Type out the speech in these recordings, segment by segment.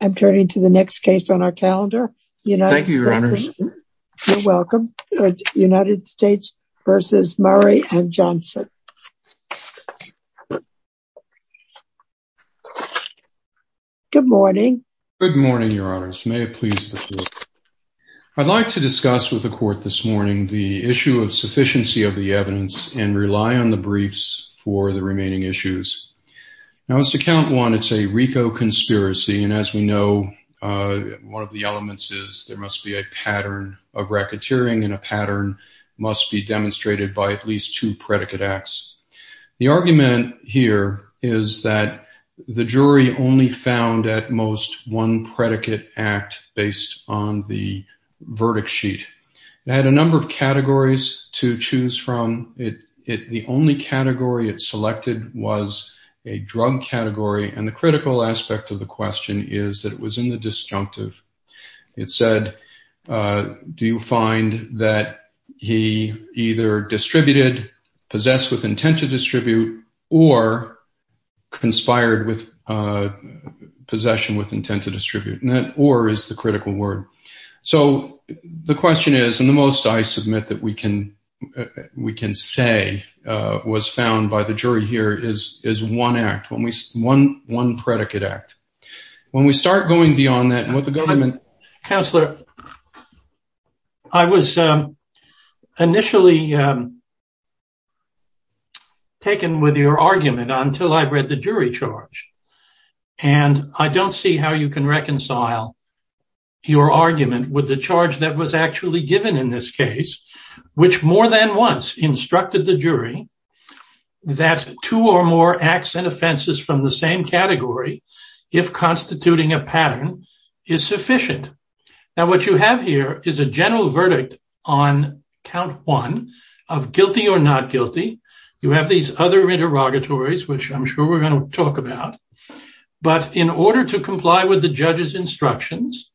and Johnson. I'm turning to the next case on our calendar, United States v. Murray and Johnson. Good morning. Good morning, Your Honors. May it please the Court. I'd like to discuss with the Court this morning the issue of sufficiency of the evidence and rely on the briefs for the remaining issues. Now, as to Count 1, it's a RICO conspiracy, and as we know, one of the elements is there must be a pattern of racketeering, and a pattern must be demonstrated by at least two predicate acts. The argument here is that the jury only found, at most, one predicate act based on the verdict sheet. It had a number of categories to choose from. The only category it selected was a drug category, and the critical aspect of the question is that it was in the disjunctive. It said, do you find that he either distributed, possessed with intent to distribute, or conspired with possession with intent to distribute, and that or is the critical word. So, the question is, and the most I submit that we can say was found by the jury here is one act, one predicate act. When we start going beyond that, and what the government- Counselor, I was initially taken with your argument until I read the jury charge, and I don't see how you can reconcile your argument with the charge that was actually given in this case, which more than once instructed the jury that two or more acts and offenses from the same category, if constituting a pattern, is sufficient. Now, what you have here is a general verdict on count one of guilty or not guilty. You have these other interrogatories, which I'm sure we're going to talk about, but in order to comply with the judge's instructions,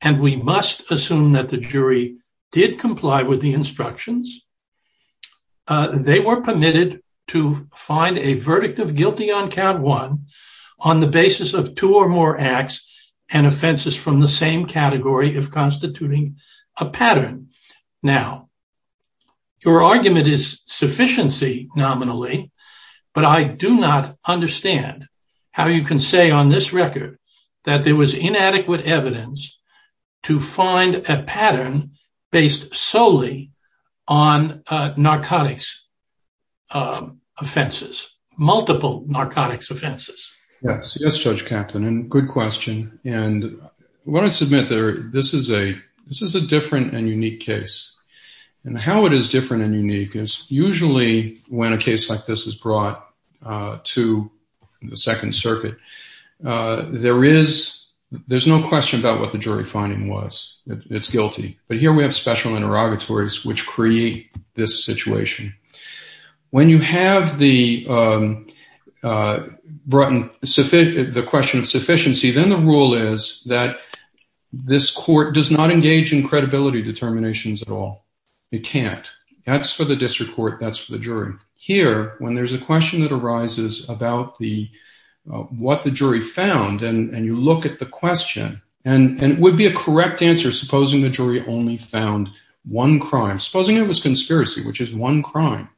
and we must assume that the jury did comply with the instructions, they were permitted to find a verdict of guilty on count one on the basis of two or more acts and offenses from the same category if constituting a pattern. Now, your argument is sufficiency nominally, but I do not understand how you can say on this record that there was inadequate evidence to find a pattern based solely on narcotics offenses, multiple narcotics offenses. Yes. Yes, Judge Kaplan, and good question. And what I submit there, this is a different and unique case, and how it is different and unique is usually when a case like this is brought to the Second Circuit, there's no question about what the jury finding was. It's guilty. But here we have special interrogatories which create this situation. When you have the question of sufficiency, then the rule is that this court does not engage in credibility determinations at all. It can't. That's for the district court. That's for the jury. Here, when there's a question that arises about what the jury found, and you look at the question, and it would be a correct answer, supposing the jury only found one crime, supposing it was conspiracy, which is one crime,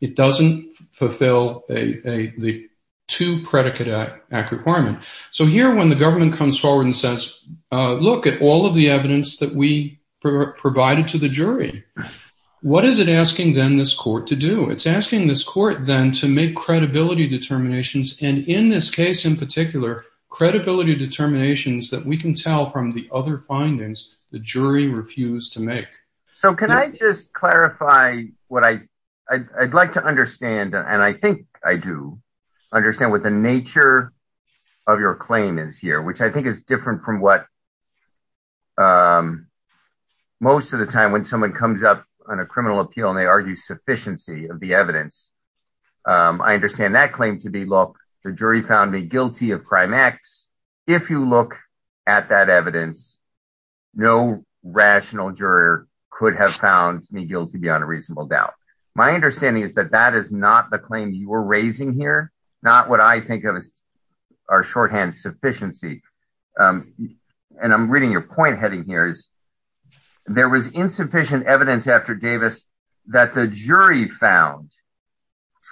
it doesn't fulfill the two-predicate act requirement. So here, when the government comes forward and says, look at all of the evidence that we provided to the jury, what is it asking, then, this court to do? It's asking this court, then, to make credibility determinations, and in this case in particular, credibility determinations that we can tell from the other findings the jury refused to make. So can I just clarify what I'd like to understand, and I think I do understand what the nature of your claim is here, which I think is different from what most of the time when someone comes up on a criminal appeal and they argue sufficiency of the evidence, I understand that claim to be, look, the jury found me guilty of crime X. If you look at that evidence, no rational juror could have found me guilty beyond a reasonable doubt. My understanding is that that is not the claim you're raising here, not what I think of as our shorthand sufficiency, and I'm reading your point heading here is there was insufficient evidence after Davis that the jury found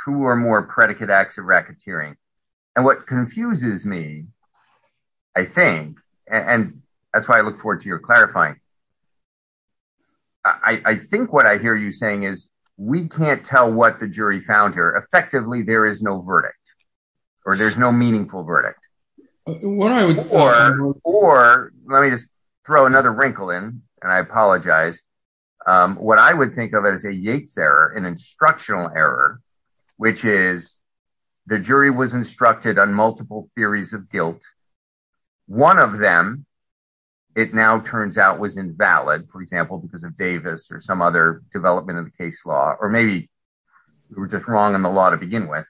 two or more predicate acts of I think, and that's why I look forward to your clarifying. I think what I hear you saying is we can't tell what the jury found here. Effectively, there is no verdict or there's no meaningful verdict. Or let me just throw another wrinkle in, and I apologize, what I would think of as a Yates error, an instructional error, which is the jury was instructed on multiple theories of guilt. One of them, it now turns out was invalid, for example, because of Davis or some other development in the case law, or maybe we're just wrong in the law to begin with.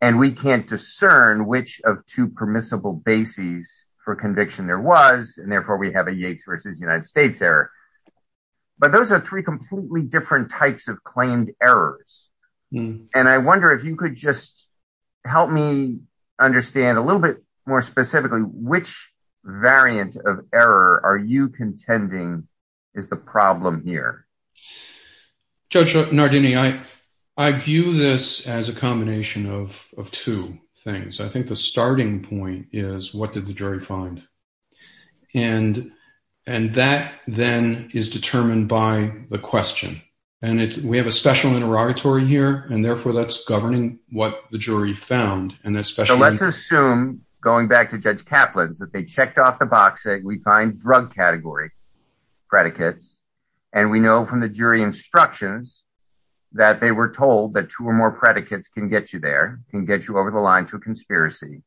And we can't discern which of two permissible bases for conviction there was, and therefore, we have a Yates versus United States error. But those are three completely different types of claimed errors. And I wonder if you could just help me understand a little bit more specifically, which variant of error are you contending is the problem here? Judge Nardini, I view this as a combination of two things. I think the starting point is what did the jury find? And that then is determined by the question. And we have a special interrogatory here, and therefore, that's governing what the jury found. And that's special. Let's assume, going back to Judge Kaplan's, that they checked off the box saying we find drug category predicates. And we know from the jury instructions that they were told that two or more predicates can get you there, can get you over the line to a conspiracy.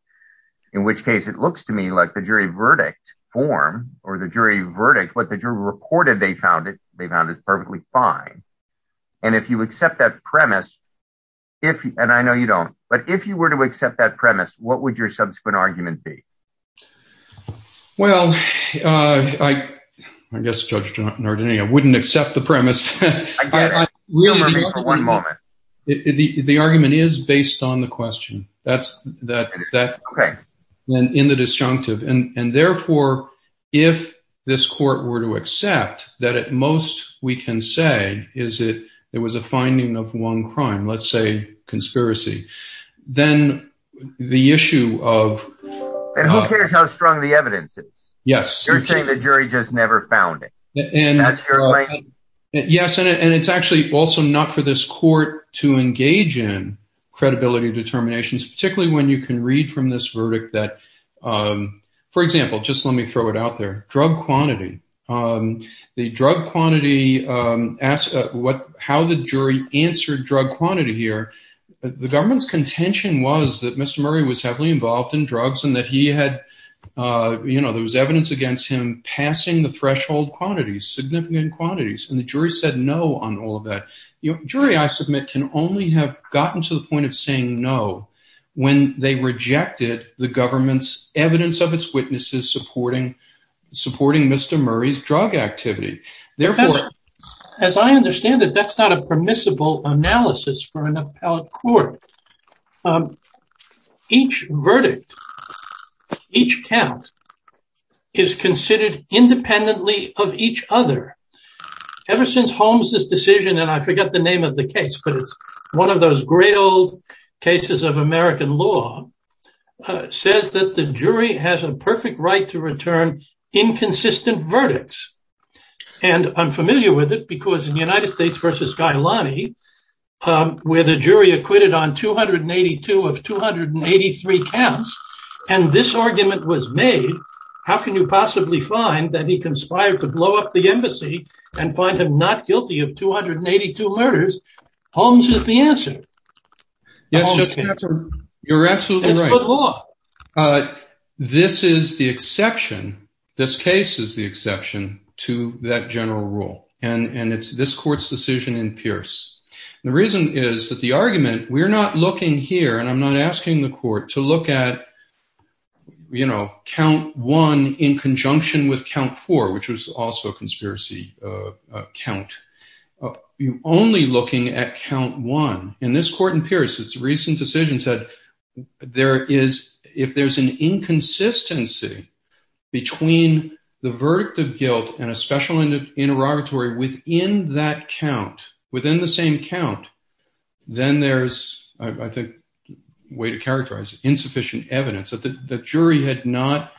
In which case, it looks to me like the jury verdict form or the jury verdict, what the jury found. And if you accept that premise, and I know you don't, but if you were to accept that premise, what would your subsequent argument be? Well, I guess Judge Nardini, I wouldn't accept the premise. One moment. The argument is based on the question that's in the disjunctive. And therefore, if this court were to accept that at most we can say it was a finding of one crime, let's say conspiracy, then the issue of... And who cares how strong the evidence is? Yes. You're saying the jury just never found it. Yes, and it's actually also not for this court to engage in credibility determinations, particularly when you can read from this verdict that, for example, just let me throw it out there, drug quantity. The drug quantity, how the jury answered drug quantity here, the government's contention was that Mr. Murray was heavily involved in drugs and that there was evidence against him passing the threshold quantities, significant quantities. And the jury said no on all of that. Jury, I submit, can only have gotten to the point of saying no when they rejected the government's evidence of its witnesses supporting Mr. Murray's drug activity. Therefore, as I understand it, that's not a permissible analysis for an appellate court. Each verdict, each count is considered independently of each other. Ever since Holmes's decision, and I forget the name of the case, but it's one of those great old cases of American law, says that the jury has a perfect right to return inconsistent verdicts. And I'm familiar with it because in the United States versus Gailani, where the jury acquitted on 282 of 283 counts, and this argument was made, how can you possibly find that he conspired to blow up the embassy and find him not guilty of 282 murders? Holmes is the answer. Yes, you're absolutely right. This is the exception. This case is the exception to that general rule. And it's this court's decision in Pierce. The reason is that the argument, we're not looking here, and I'm not asking the court to look at count one in conjunction with count four, which was also a conspiracy count. You're only looking at count one. And this court in Pierce's recent decision said, if there's an inconsistency between the verdict of guilt and a special interrogatory within that count, within the same count, then there's, I think, a way to characterize it, insufficient evidence that the jury had not-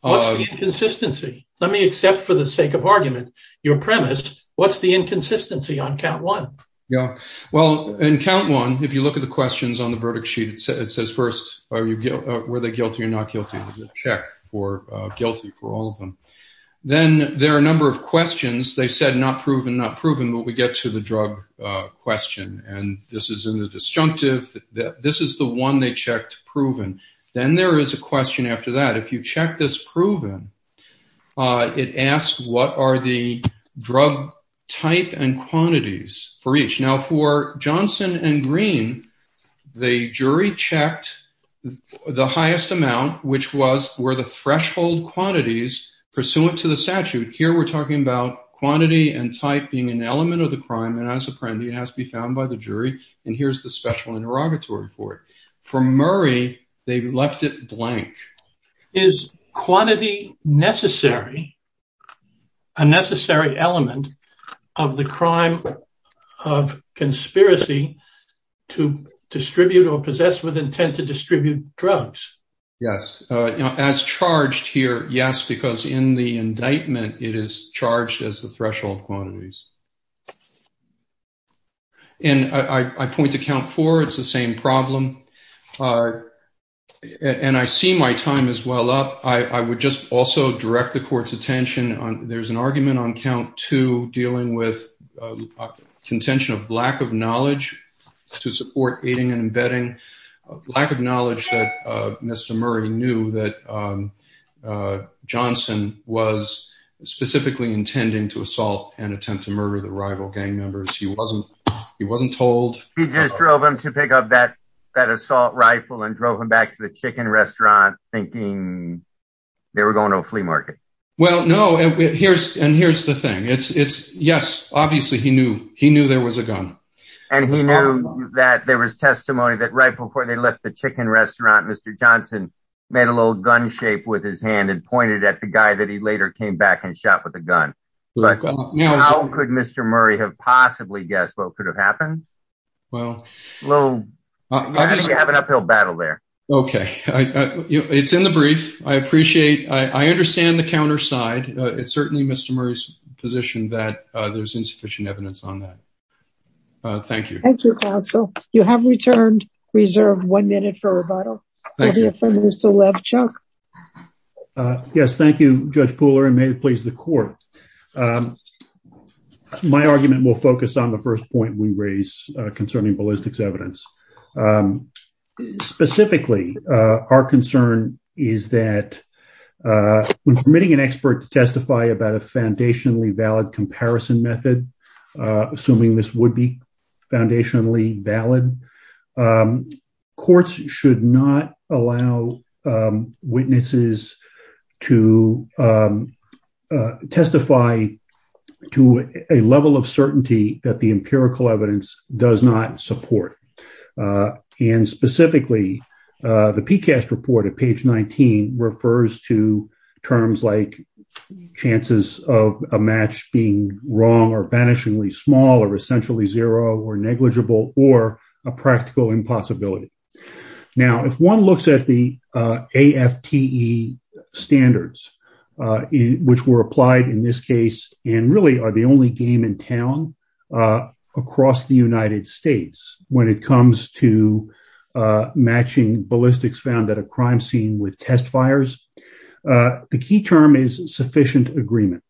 What's the inconsistency? Let me accept for the sake of argument your premise. What's the inconsistency on count one? Yeah. Well, in count one, if you look at the questions on the verdict sheet, it says first, were they guilty or not guilty? There's a check for guilty for all of them. Then there are a number of questions. They said not proven, not proven, but we get to the drug question. And this is in the disjunctive. This is the one they checked proven. Then there is a question after that. If you check this proven, it asks, what are the drug type and quantities for each? Now, for Johnson and Green, the jury checked the highest amount, which were the threshold quantities pursuant to the statute. Here, we're talking about quantity and type being an element of the crime. And as apprendee, it has to be found by the jury. And here's the special interrogatory for it. For Murray, they left it blank. Is quantity necessary, a necessary element of the crime of conspiracy to distribute or possess with intent to distribute drugs? Yes. As charged here, yes, because in the indictment, it is charged as the threshold quantities. And I point to count four. It's the same problem. And I see my time is well up. I would just also direct the court's attention. There's an argument on count two dealing with contention of lack of knowledge to support aiding and abetting, lack of knowledge that Mr. Murray knew that Johnson was specifically intending to assault and attempt to murder the rival gang members. He wasn't told. He just drove him to pick up that assault rifle and drove him back to the chicken restaurant thinking they were going to a flea market. Well, no, and here's the thing. Yes, obviously, he knew. He knew there was a gun. And he knew that there was testimony that right before they left the chicken restaurant, Mr. Johnson made a little gun shape with his hand and pointed at the guy that he later came back and shot with a gun. But how could Mr. Murray have possibly guessed what could have happened? Well, I think you have an uphill battle there. OK, it's in the brief. I appreciate I understand the counterside. It's certainly Mr. Murray's position that there's insufficient evidence on that. Thank you. Thank you, counsel. You have returned reserved one minute for rebuttal. Thank you. Yes, thank you, Judge Pooler, and may it please the court. My argument will focus on the first point we raise concerning ballistics evidence. Specifically, our concern is that when permitting an expert to testify about a foundationally valid comparison method, assuming this would be foundationally valid, courts should not allow witnesses to testify to a level of certainty that the empirical evidence does not support. And specifically, the PCAST report at page 19 refers to terms like chances of a match being wrong or vanishingly small or essentially zero or negligible or a practical impossibility. Now, if one looks at the AFTE standards, which were applied in this case and really are the game in town across the United States when it comes to matching ballistics found at a crime scene with test fires, the key term is sufficient agreement.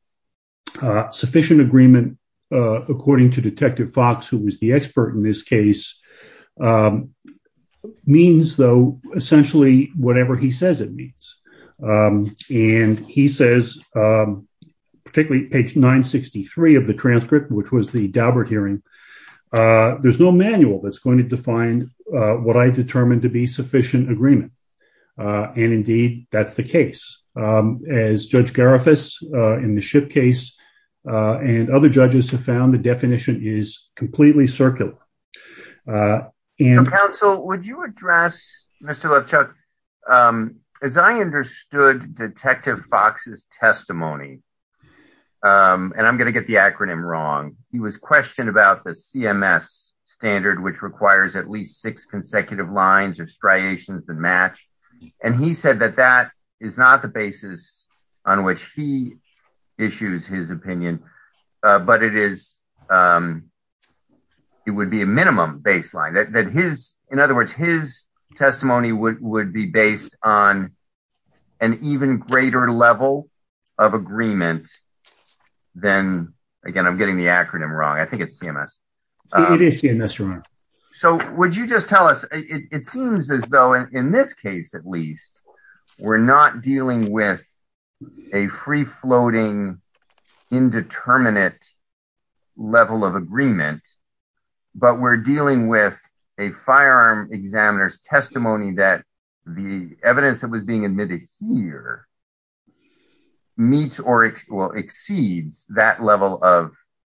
Sufficient agreement, according to Detective Fox, who was the expert in this case, means, though, essentially whatever he says it means. And he says, particularly page 963 of the transcript, which was the Daubert hearing, there's no manual that's going to define what I determined to be sufficient agreement. And indeed, that's the case. As Judge Garifas in the Shipp case and other judges have found, the definition is completely circular. Counsel, would you address, Mr. Levchuk, as I understood Detective Fox's testimony, and I'm going to get the acronym wrong, he was questioned about the CMS standard, which requires at least six consecutive lines of striations to match. And he said that that is not the basis on which he issues his opinion, but it is it would be a minimum baseline that his, in other words, his testimony would be based on an even greater level of agreement. Then, again, I'm getting the acronym wrong. I think it's CMS. So would you just tell us, it seems as though in this case, at least, we're not dealing with a free floating indeterminate level of agreement. But we're dealing with a firearm examiner's testimony that the evidence that was being admitted here meets or exceeds that level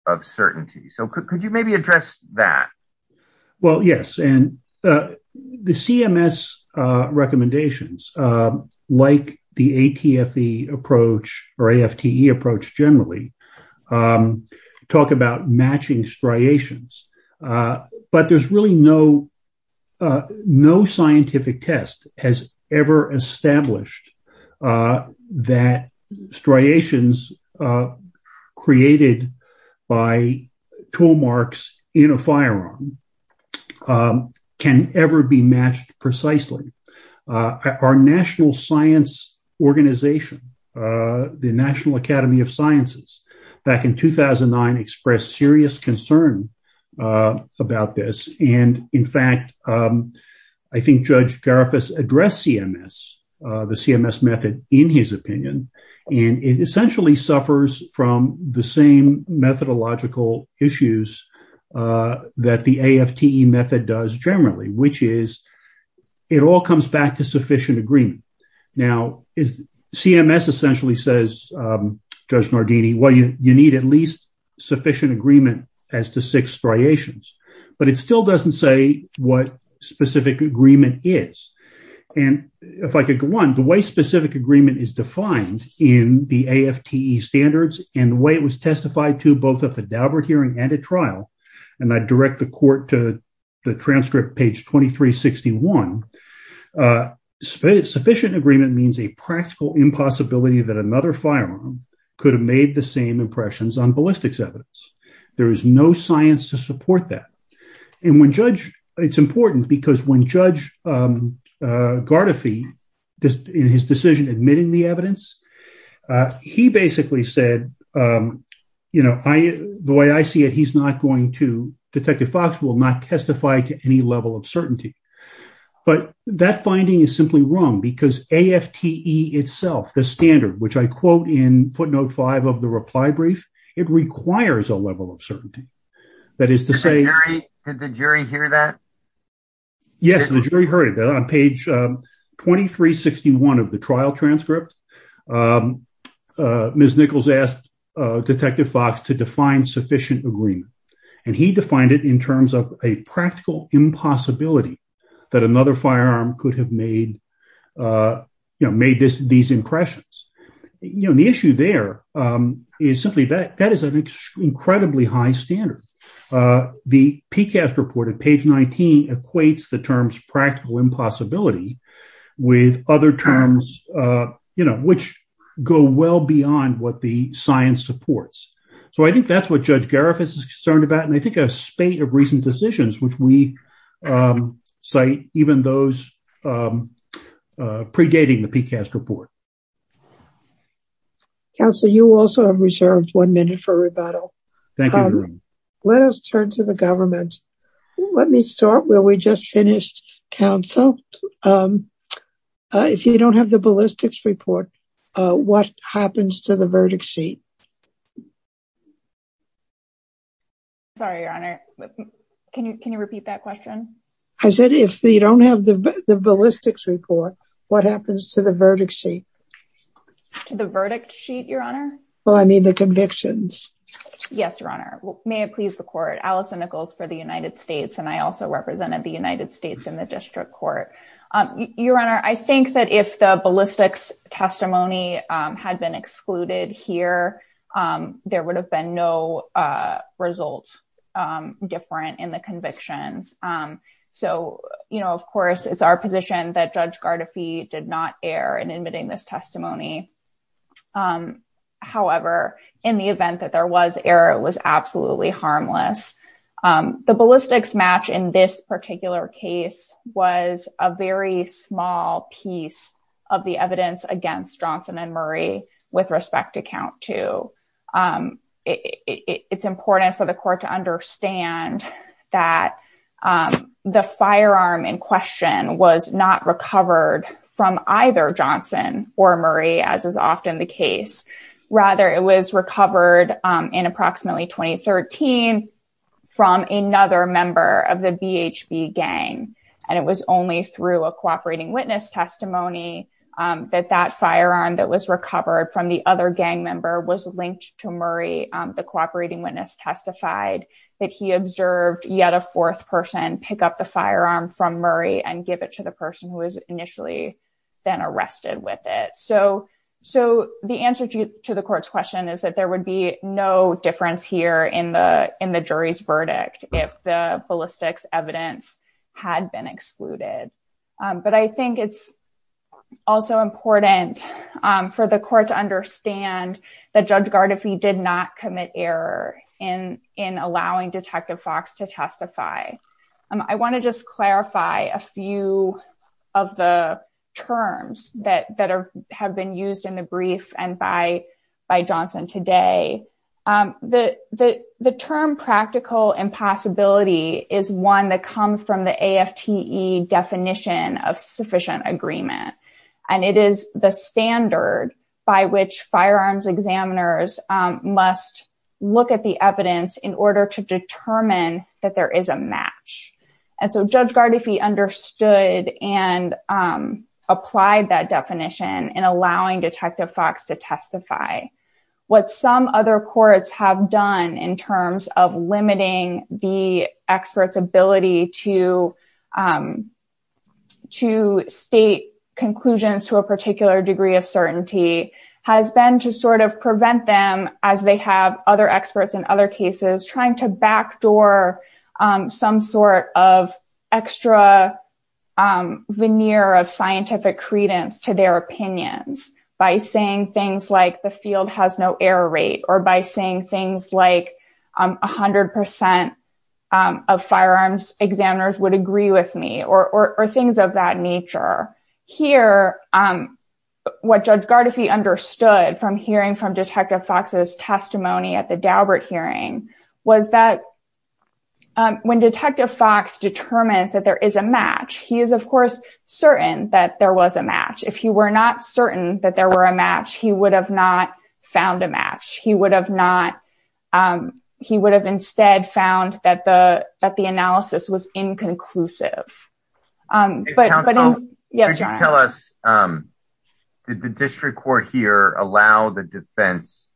of certainty. So could you maybe address that? Well, yes. And the CMS recommendations, like the ATFE approach or AFTE approach generally, talk about matching striations. But there's really no scientific test has ever established that striations created by tool marks in a firearm can ever be matched precisely. Our National Science Organization, the National Academy of Sciences, back in 2009, expressed serious concern about this. And in fact, I think Judge Garifas addressed CMS, the CMS method, in his opinion. And it essentially suffers from the same methodological issues that the AFTE method does generally, which is it all comes back to sufficient agreement. Now, CMS essentially says, Judge Nardini, well, you need at least sufficient agreement as to six striations. But it still doesn't say what specific agreement is. And if I could go on, the way specific agreement is defined in the AFTE standards and the way it testified to both a cadaver hearing and a trial, and I direct the court to the transcript, page 2361, sufficient agreement means a practical impossibility that another firearm could have made the same impressions on ballistics evidence. There is no science to support that. And it's important because when Judge Garifas, in his decision admitting the evidence, he basically said, the way I see it, he's not going to, Detective Fox will not testify to any level of certainty. But that finding is simply wrong because AFTE itself, the standard, which I quote in footnote five of the reply brief, it requires a level of certainty. That is to say- Did the jury hear that? Yes, the jury heard it on page 2361 of the trial transcript. Ms. Nichols asked Detective Fox to define sufficient agreement, and he defined it in terms of a practical impossibility that another firearm could have made these impressions. The issue there is simply that that is an incredibly high standard. The PCAST report at page 19 equates the terms practical impossibility with other terms, which go well beyond what the science supports. So I think that's what Judge Garifas is concerned about. And I think a spate of recent decisions, which we cite even those predating the PCAST report. Counsel, you also have reserved one minute for rebuttal. Thank you, Your Honor. Let us turn to the government. Let me start where we just finished, counsel. Um, if you don't have the ballistics report, what happens to the verdict sheet? Sorry, Your Honor. Can you can you repeat that question? I said, if they don't have the ballistics report, what happens to the verdict sheet? To the verdict sheet, Your Honor? Well, I mean, the convictions. Yes, Your Honor. May it please the court. Allison Nichols for the United States. And I also represented the United States in the district court. Your Honor, I think that if the ballistics testimony had been excluded here, there would have been no results different in the convictions. So, you know, of course, it's our position that Judge Garifas did not err in admitting this testimony. However, in the event that there was error, it was absolutely harmless. The ballistics match in this particular case was a very small piece of the evidence against Johnson and Murray, with respect to count two. It's important for the court to understand that the firearm in question was not recovered from either Johnson or Murray, as is often the case. Rather, it was recovered in approximately 2013 from another member of the BHB gang. And it was only through a cooperating witness testimony that that firearm that was recovered from the other gang member was linked to Murray. The cooperating witness testified that he observed yet a fourth person pick up the firearm from Murray and give it to the person who was initially then arrested with it. So the answer to the court's question is that there would be no difference here in the jury's verdict if the ballistics evidence had been excluded. But I think it's also important for the court to understand that Judge Garifas did not commit error in allowing Detective Fox to testify. I want to just clarify a few of the terms that have been used in the brief and by Johnson today. The term practical impossibility is one that comes from the AFTE definition of sufficient agreement. And it is the standard by which firearms examiners must look at the evidence in order to determine that there is a match. And so Judge Garifas understood and applied that definition in allowing Detective Fox to testify. What some other courts have done in terms of limiting the expert's ability to state conclusions to a particular degree of certainty has been to sort of prevent them, as they have other experts in other cases, trying to backdoor some sort of extra veneer of scientific credence to their opinions by saying things like the field has no error rate or by saying things like 100% of firearms examiners would agree with me or things of that nature. Here, what Judge Garifas understood from hearing from Detective Fox's testimony at the Daubert hearing was that when Detective Fox determines that there is a match, he is of course certain that there was a match. If he were not certain that there were a match, he would have not found a match. He would have instead found that the analysis was inconclusive. But tell us, did the district court here allow the defense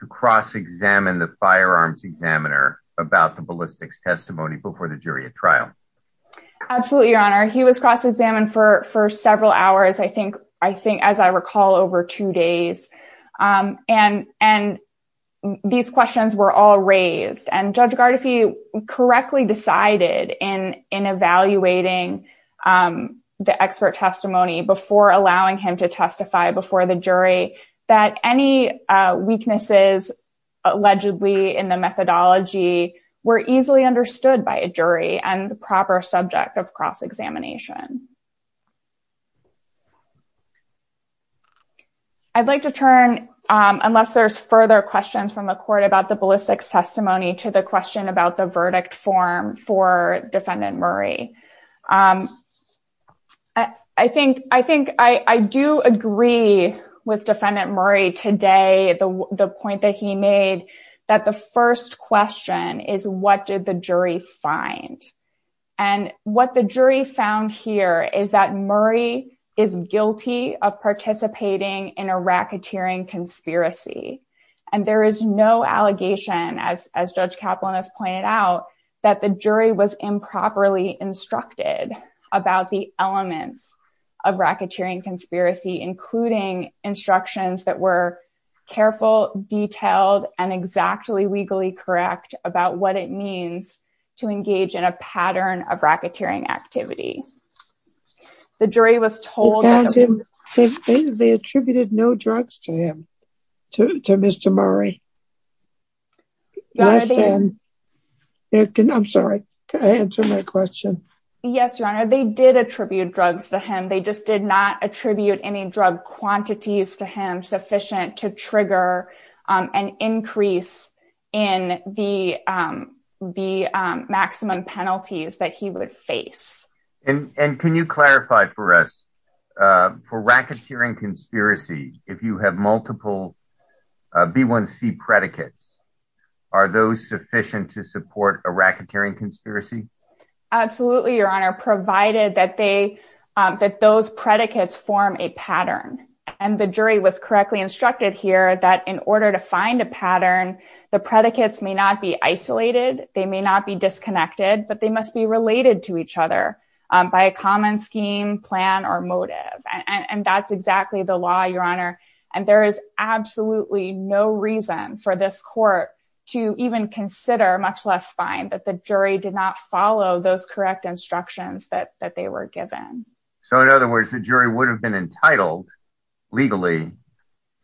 to cross-examine the firearms examiner about the ballistics testimony before the jury at trial? Absolutely, Your Honor. He was cross-examined for several hours, I think, as I recall, over two days. And these questions were all raised and Judge Garifas correctly decided in evaluating the expert testimony before allowing him to testify before the jury that any weaknesses allegedly in the methodology were easily understood by a jury and proper subject of cross-examination. I'd like to turn, unless there's further questions from the court about the ballistics testimony to the question about the verdict form for Defendant Murray. I do agree with Defendant Murray today, the point that he made, that the first question is, what did the jury find? And what the jury found here is that Murray is guilty of participating in a racketeering conspiracy. And there is no allegation, as Judge Kaplan has pointed out, that the jury was improperly instructed about the elements of racketeering conspiracy, including instructions that were careful, detailed, and exactly legally correct about what it means to engage in a pattern of racketeering activity. The jury was told that they attributed no drugs to him, to Mr. Murray. I'm sorry, can I answer my question? Yes, Your Honor, they did attribute drugs to him. They just did not attribute any drug quantities to him sufficient to trigger an increase in the maximum penalties that he would face. And can you clarify for us, for racketeering conspiracy, if you have multiple B1C predicates, are those sufficient to support a racketeering conspiracy? Absolutely, Your Honor, provided that those predicates form a pattern. And the jury was correctly instructed here that in order to find a pattern, the predicates may not be isolated, they may not be disconnected, but they must be related to each other by a common scheme, plan, or motive. And that's exactly the law, Your Honor. And there is absolutely no reason for this court to even consider, much less find, that the jury did not follow those correct instructions that they were given. So in other words, the jury would have been entitled, legally,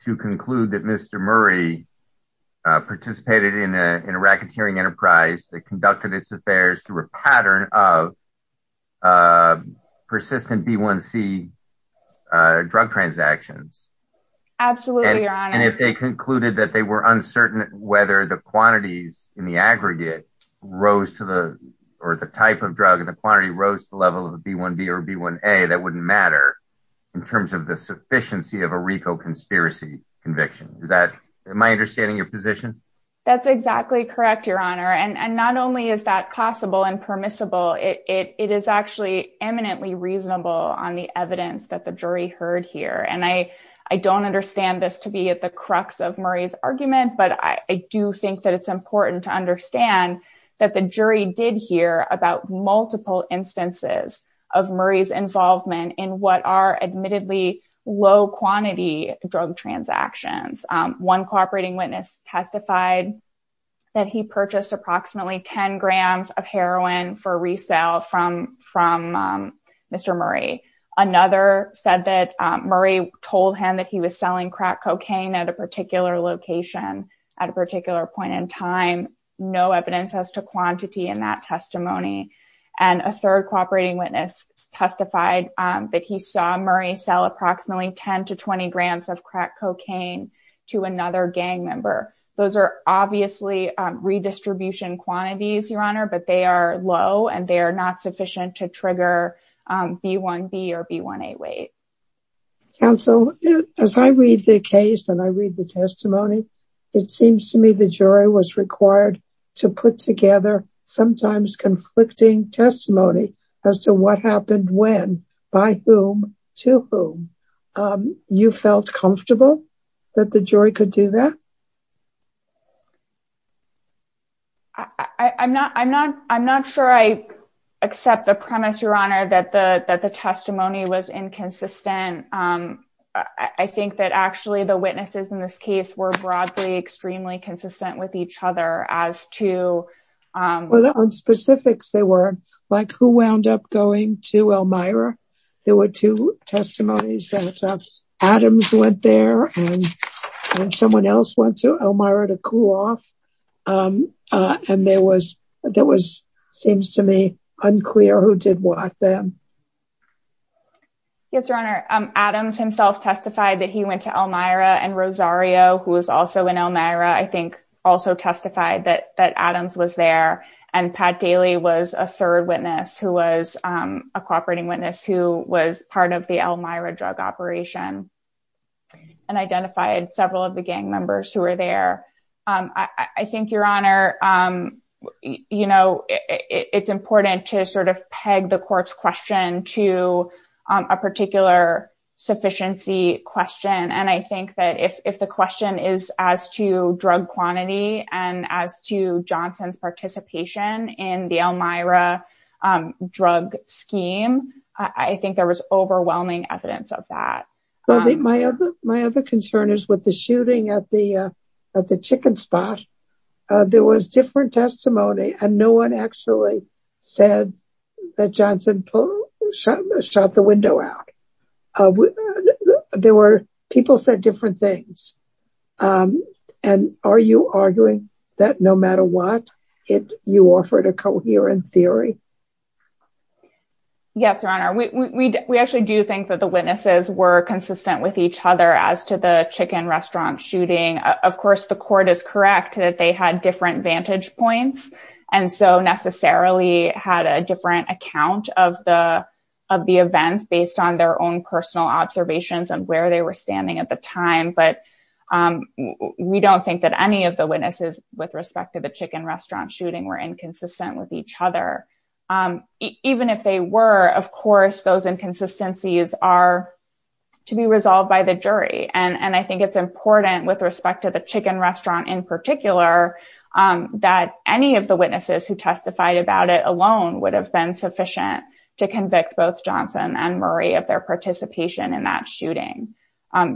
to conclude that Mr. Murray participated in a racketeering enterprise that conducted its affairs through a pattern of persistent B1C drug transactions. Absolutely, Your Honor. And if they concluded that they were uncertain whether the quantities in the aggregate rose to the, or the type of drug and the quantity rose to the level of B1B or B1A, that wouldn't matter in terms of the sufficiency of a RICO conspiracy conviction. Is that my understanding of your position? That's exactly correct, Your Honor. And not only is that possible and permissible, it is actually eminently reasonable on the evidence that the jury heard here. And I don't understand this to be at the crux of Murray's argument, but I do think that it's important to understand that the jury did hear about multiple instances of Murray's involvement in what are admittedly low quantity drug transactions. One cooperating witness testified that he purchased approximately 10 grams of heroin for resale from Mr. Murray. Another said that Murray told him that he was selling crack cocaine at a particular location, at a particular point in time, no evidence as to quantity in that testimony. And a third cooperating witness testified that he saw Murray sell approximately 10 to 20 grams of crack cocaine to another gang member. Those are obviously redistribution quantities, Your Honor, but they are low and they are not sufficient to trigger B1B or B1A weight. Counsel, as I read the case and I read the testimony, it seems to me the jury was required to put together sometimes conflicting testimony as to what happened when, by whom, to whom. You felt comfortable that the jury could do that? I'm not sure I accept the premise, Your Honor, that the testimony was inconsistent. I think that actually the witnesses in this case were broadly extremely consistent with each other as to... Well, on specifics, they were like, who wound up going to Elmira? There were two testimonies that Adams went there and someone else went to Elmira to cool off. And there was, there was, seems to me unclear who did what then. Yes, Your Honor, Adams himself testified that he went to Elmira and Rosario, who was also in Elmira, I think also testified that Adams was there. And Pat Daly was a third witness who was a cooperating witness who was part of the Elmira drug operation and identified several of the gang members who were there. I think, Your Honor, it's important to sort of peg the court's question to a particular sufficiency question. And I think that if the question is as to drug quantity and as to Johnson's participation in the Elmira drug scheme, I think there was overwhelming evidence of that. My other concern is with the shooting at the chicken spot. There was different testimony and no one actually said that Johnson shot the window out. There were, people said different things. And are you arguing that no matter what, you offered a coherent theory? Yes, Your Honor, we actually do think that the witnesses were consistent with each other as to the chicken restaurant shooting. Of course, the court is correct that they had different vantage points and so necessarily had a different account of the events based on their own personal observations and where they were standing at the time. But we don't think that any of the witnesses with respect to the chicken restaurant shooting were inconsistent with each other. Even if they were, of course, those inconsistencies are to be resolved by the jury. And I think it's important with respect to the chicken restaurant in particular that any of the witnesses who testified about it alone would have been sufficient to convict both Johnson and Murray of their participation in that shooting.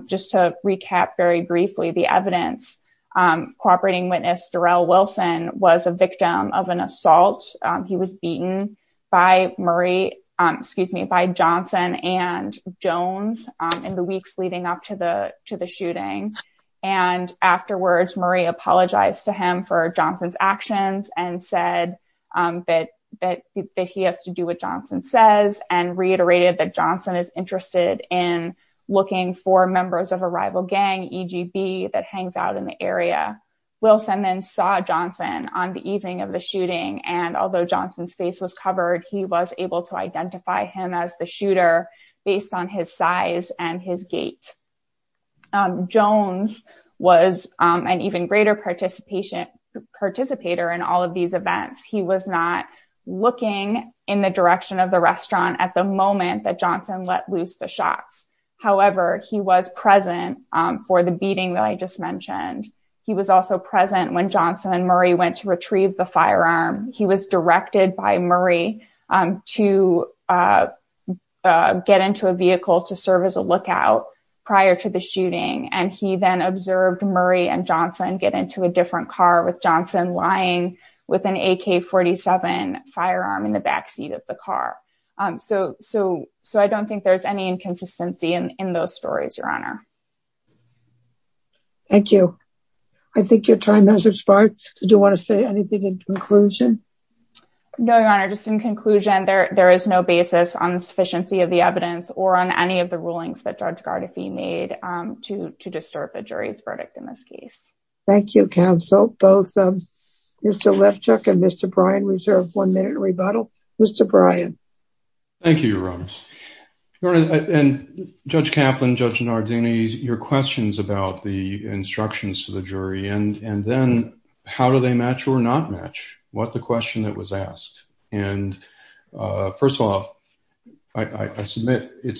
Just to recap very briefly, the evidence, cooperating witness Darrell Wilson was a victim of an assault. He was beaten by Murray, excuse me, by Johnson and Jones in the weeks leading up to the shooting. And afterwards, Murray apologized to him for Johnson's actions and said that he has to do what Johnson says and reiterated that Johnson is interested in looking for members of a rival gang EGB that hangs out in the area. Wilson then saw Johnson on the evening of the shooting. And although Johnson's face was covered, he was able to see Jones was an even greater participation, participator in all of these events. He was not looking in the direction of the restaurant at the moment that Johnson let loose the shots. However, he was present for the beating that I just mentioned. He was also present when Johnson and Murray went to retrieve the firearm. He was directed by Murray to get into a vehicle to serve as a lookout prior to the shooting. And he then observed Murray and Johnson get into a different car with Johnson lying with an AK-47 firearm in the backseat of the car. So I don't think there's any inconsistency in those stories, Your Honor. Thank you. I think your time has expired. Do you want to say anything in conclusion? No, Your Honor, just in conclusion, there is no basis on the sufficiency of the evidence or on any of the rulings that Judge Gardefee made to disturb the jury's verdict in this case. Thank you, counsel. Both Mr. Lifchuck and Mr. Bryan reserve one minute rebuttal. Mr. Bryan. Thank you, Your Honor. And Judge Kaplan, Judge Nardini, your questions about the instructions to the jury and then how do they match or not match? What the question that was it's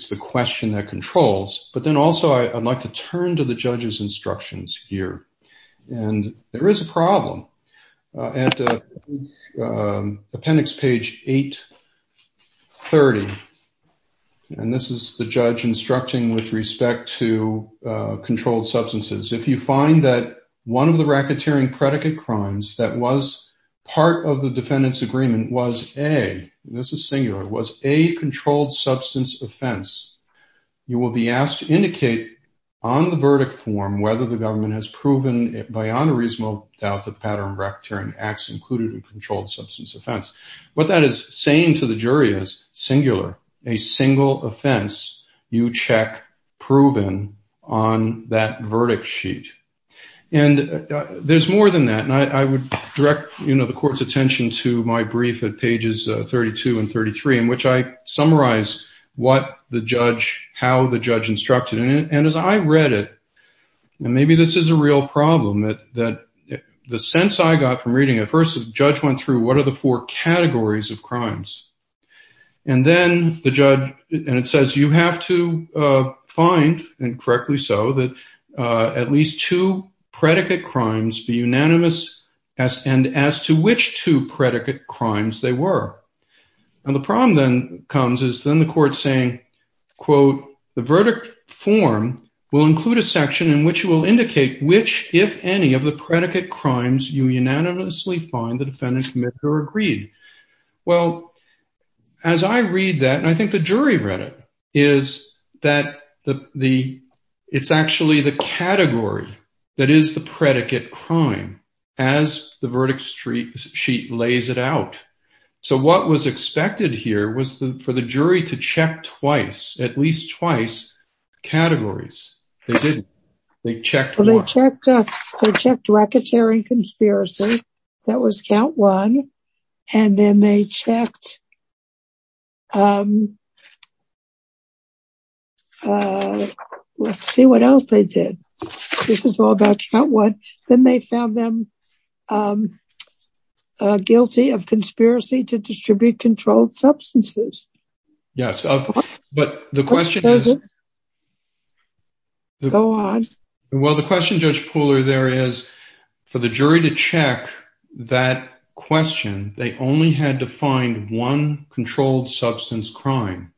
the question that controls. But then also I'd like to turn to the judge's instructions here. And there is a problem at appendix page 830. And this is the judge instructing with respect to controlled substances. If you find that one of the racketeering predicate crimes that was you will be asked to indicate on the verdict form whether the government has proven by unreasonable doubt that pattern of racketeering acts included in controlled substance offense. What that is saying to the jury is singular, a single offense you check proven on that verdict sheet. And there's more than that. And I would direct the court's attention to my brief at pages 32 and 33 in which I summarize what the judge, how the judge instructed in it. And as I read it, and maybe this is a real problem, that the sense I got from reading it, first the judge went through what are the four categories of crimes. And then the judge, and it says you have to find, and correctly so, that at least two predicate crimes be unanimous as and as to which two predicate crimes they were. And the problem then comes is then the court saying, quote, the verdict form will include a section in which you will indicate which, if any, of the predicate crimes you unanimously find the defendant committed or agreed. Well, as I read that, and I think the jury read it, is that it's actually the category that is the predicate crime as the verdict sheet lays it out. So what was expected here was for the jury to check twice, at least twice, categories. They did. They checked. Well, they checked racketeering conspiracy. That was count one. And then they checked, let's see what else they did. This is all about count one. Then they found them guilty of conspiracy to distribute controlled substances. Yes, but the question is, go on. Well, the question, Judge Pooler, there is, for the jury to check that question, they only had to find one controlled substance crime.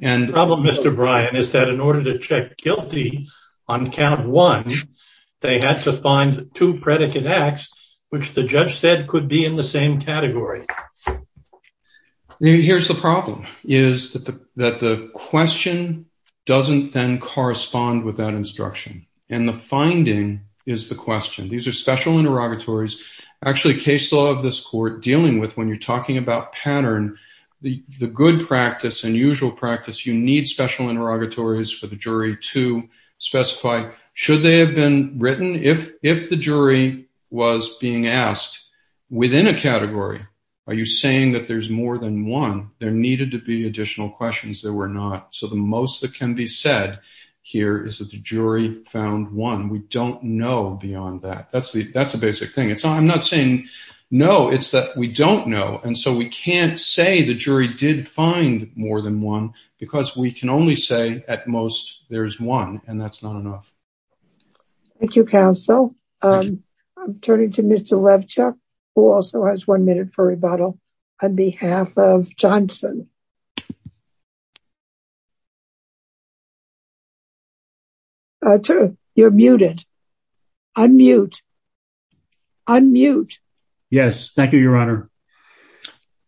The problem, Mr. Bryan, is that in order to check guilty on count one, they had to find two predicate acts, which the judge said could be in the same category. Here's the problem, is that the question doesn't then correspond with that instruction. And the finding is the question. These are special interrogatories. Actually, case law of this court dealing with when you're talking about pattern, the good practice and usual practice, you need special interrogatories for the jury to specify, should they have been written? If the jury was being asked within a category, are you saying that there's more than one? There needed to be additional questions. There were not. So the most that can be said here is that the jury found one. We don't know beyond that. That's the basic thing. I'm not saying no, it's that we don't know. And so we can't say the jury did find more than one because we can only say at most there's one, and that's not enough. Thank you, counsel. I'm turning to Mr. Levchuk, who also has one minute for rebuttal, on behalf of Johnson. You're muted. Unmute. Unmute. Yes, thank you, Your Honor.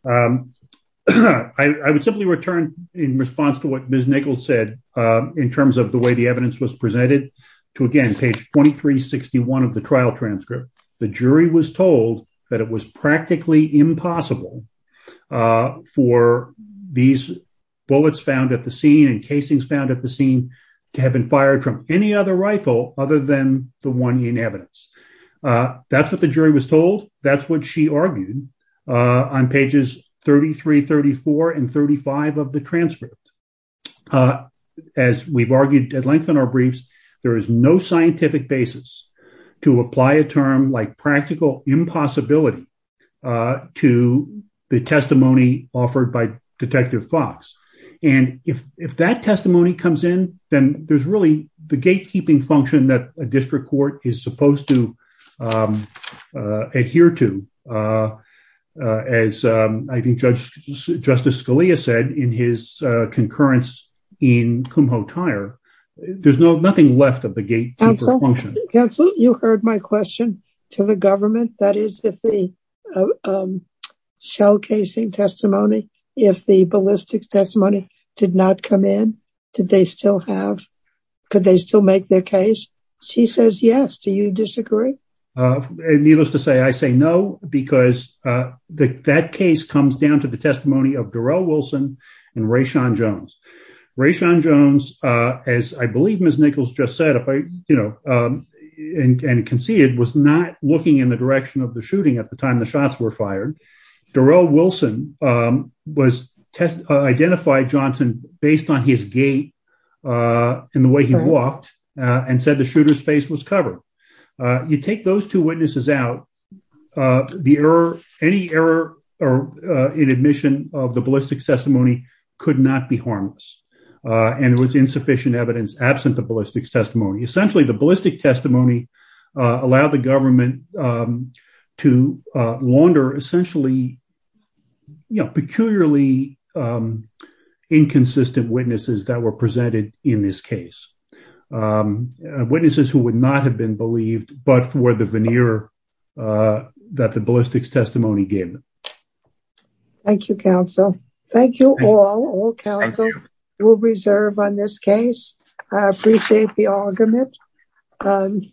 I would simply return in response to what Ms. Nichols said, in terms of the way the evidence was presented, to again, page 2361 of the trial transcript. The jury was told that it was practically impossible for these bullets found at the scene and casings found at the scene to have been fired from any other rifle other than the one in evidence. That's what the jury was told. That's what she argued on pages 33, 34, and 35 of the transcript. As we've argued at length in our briefs, there is no scientific basis to apply a term like practical impossibility to the testimony offered by Detective Fox. And if that testimony comes in, then there's really the gatekeeping function that a district court is supposed to adhere to. As I think Justice Scalia said in his concurrence in Kumho Tire, there's nothing left of the gatekeeper function. Counsel, you heard my question to the government. That is, if the shell casing testimony, if the ballistics testimony did not come in, did they still have, could they still make their case? She says, yes. Do you disagree? Needless to say, I say no, because that case comes down to the testimony of Darrell Wilson and Raishan Jones. Raishan Jones, as I believe Ms. Nichols just said, and conceded, was not looking in the direction of the shooting at the time the shots were fired. Darrell Wilson identified Johnson based on his gait and the way he walked and said the shooter's face was covered. You take those two witnesses out, any error in admission of the ballistics testimony could not be harmless. And it was insufficient evidence absent the ballistics testimony. Essentially, the ballistics testimony allowed the government to launder essentially peculiarly inconsistent witnesses that were presented in this case. Witnesses who would not have been believed but for the veneer that the ballistics testimony gave them. Thank you, counsel. Thank you all. All counsel will reserve on this case. I appreciate the argument.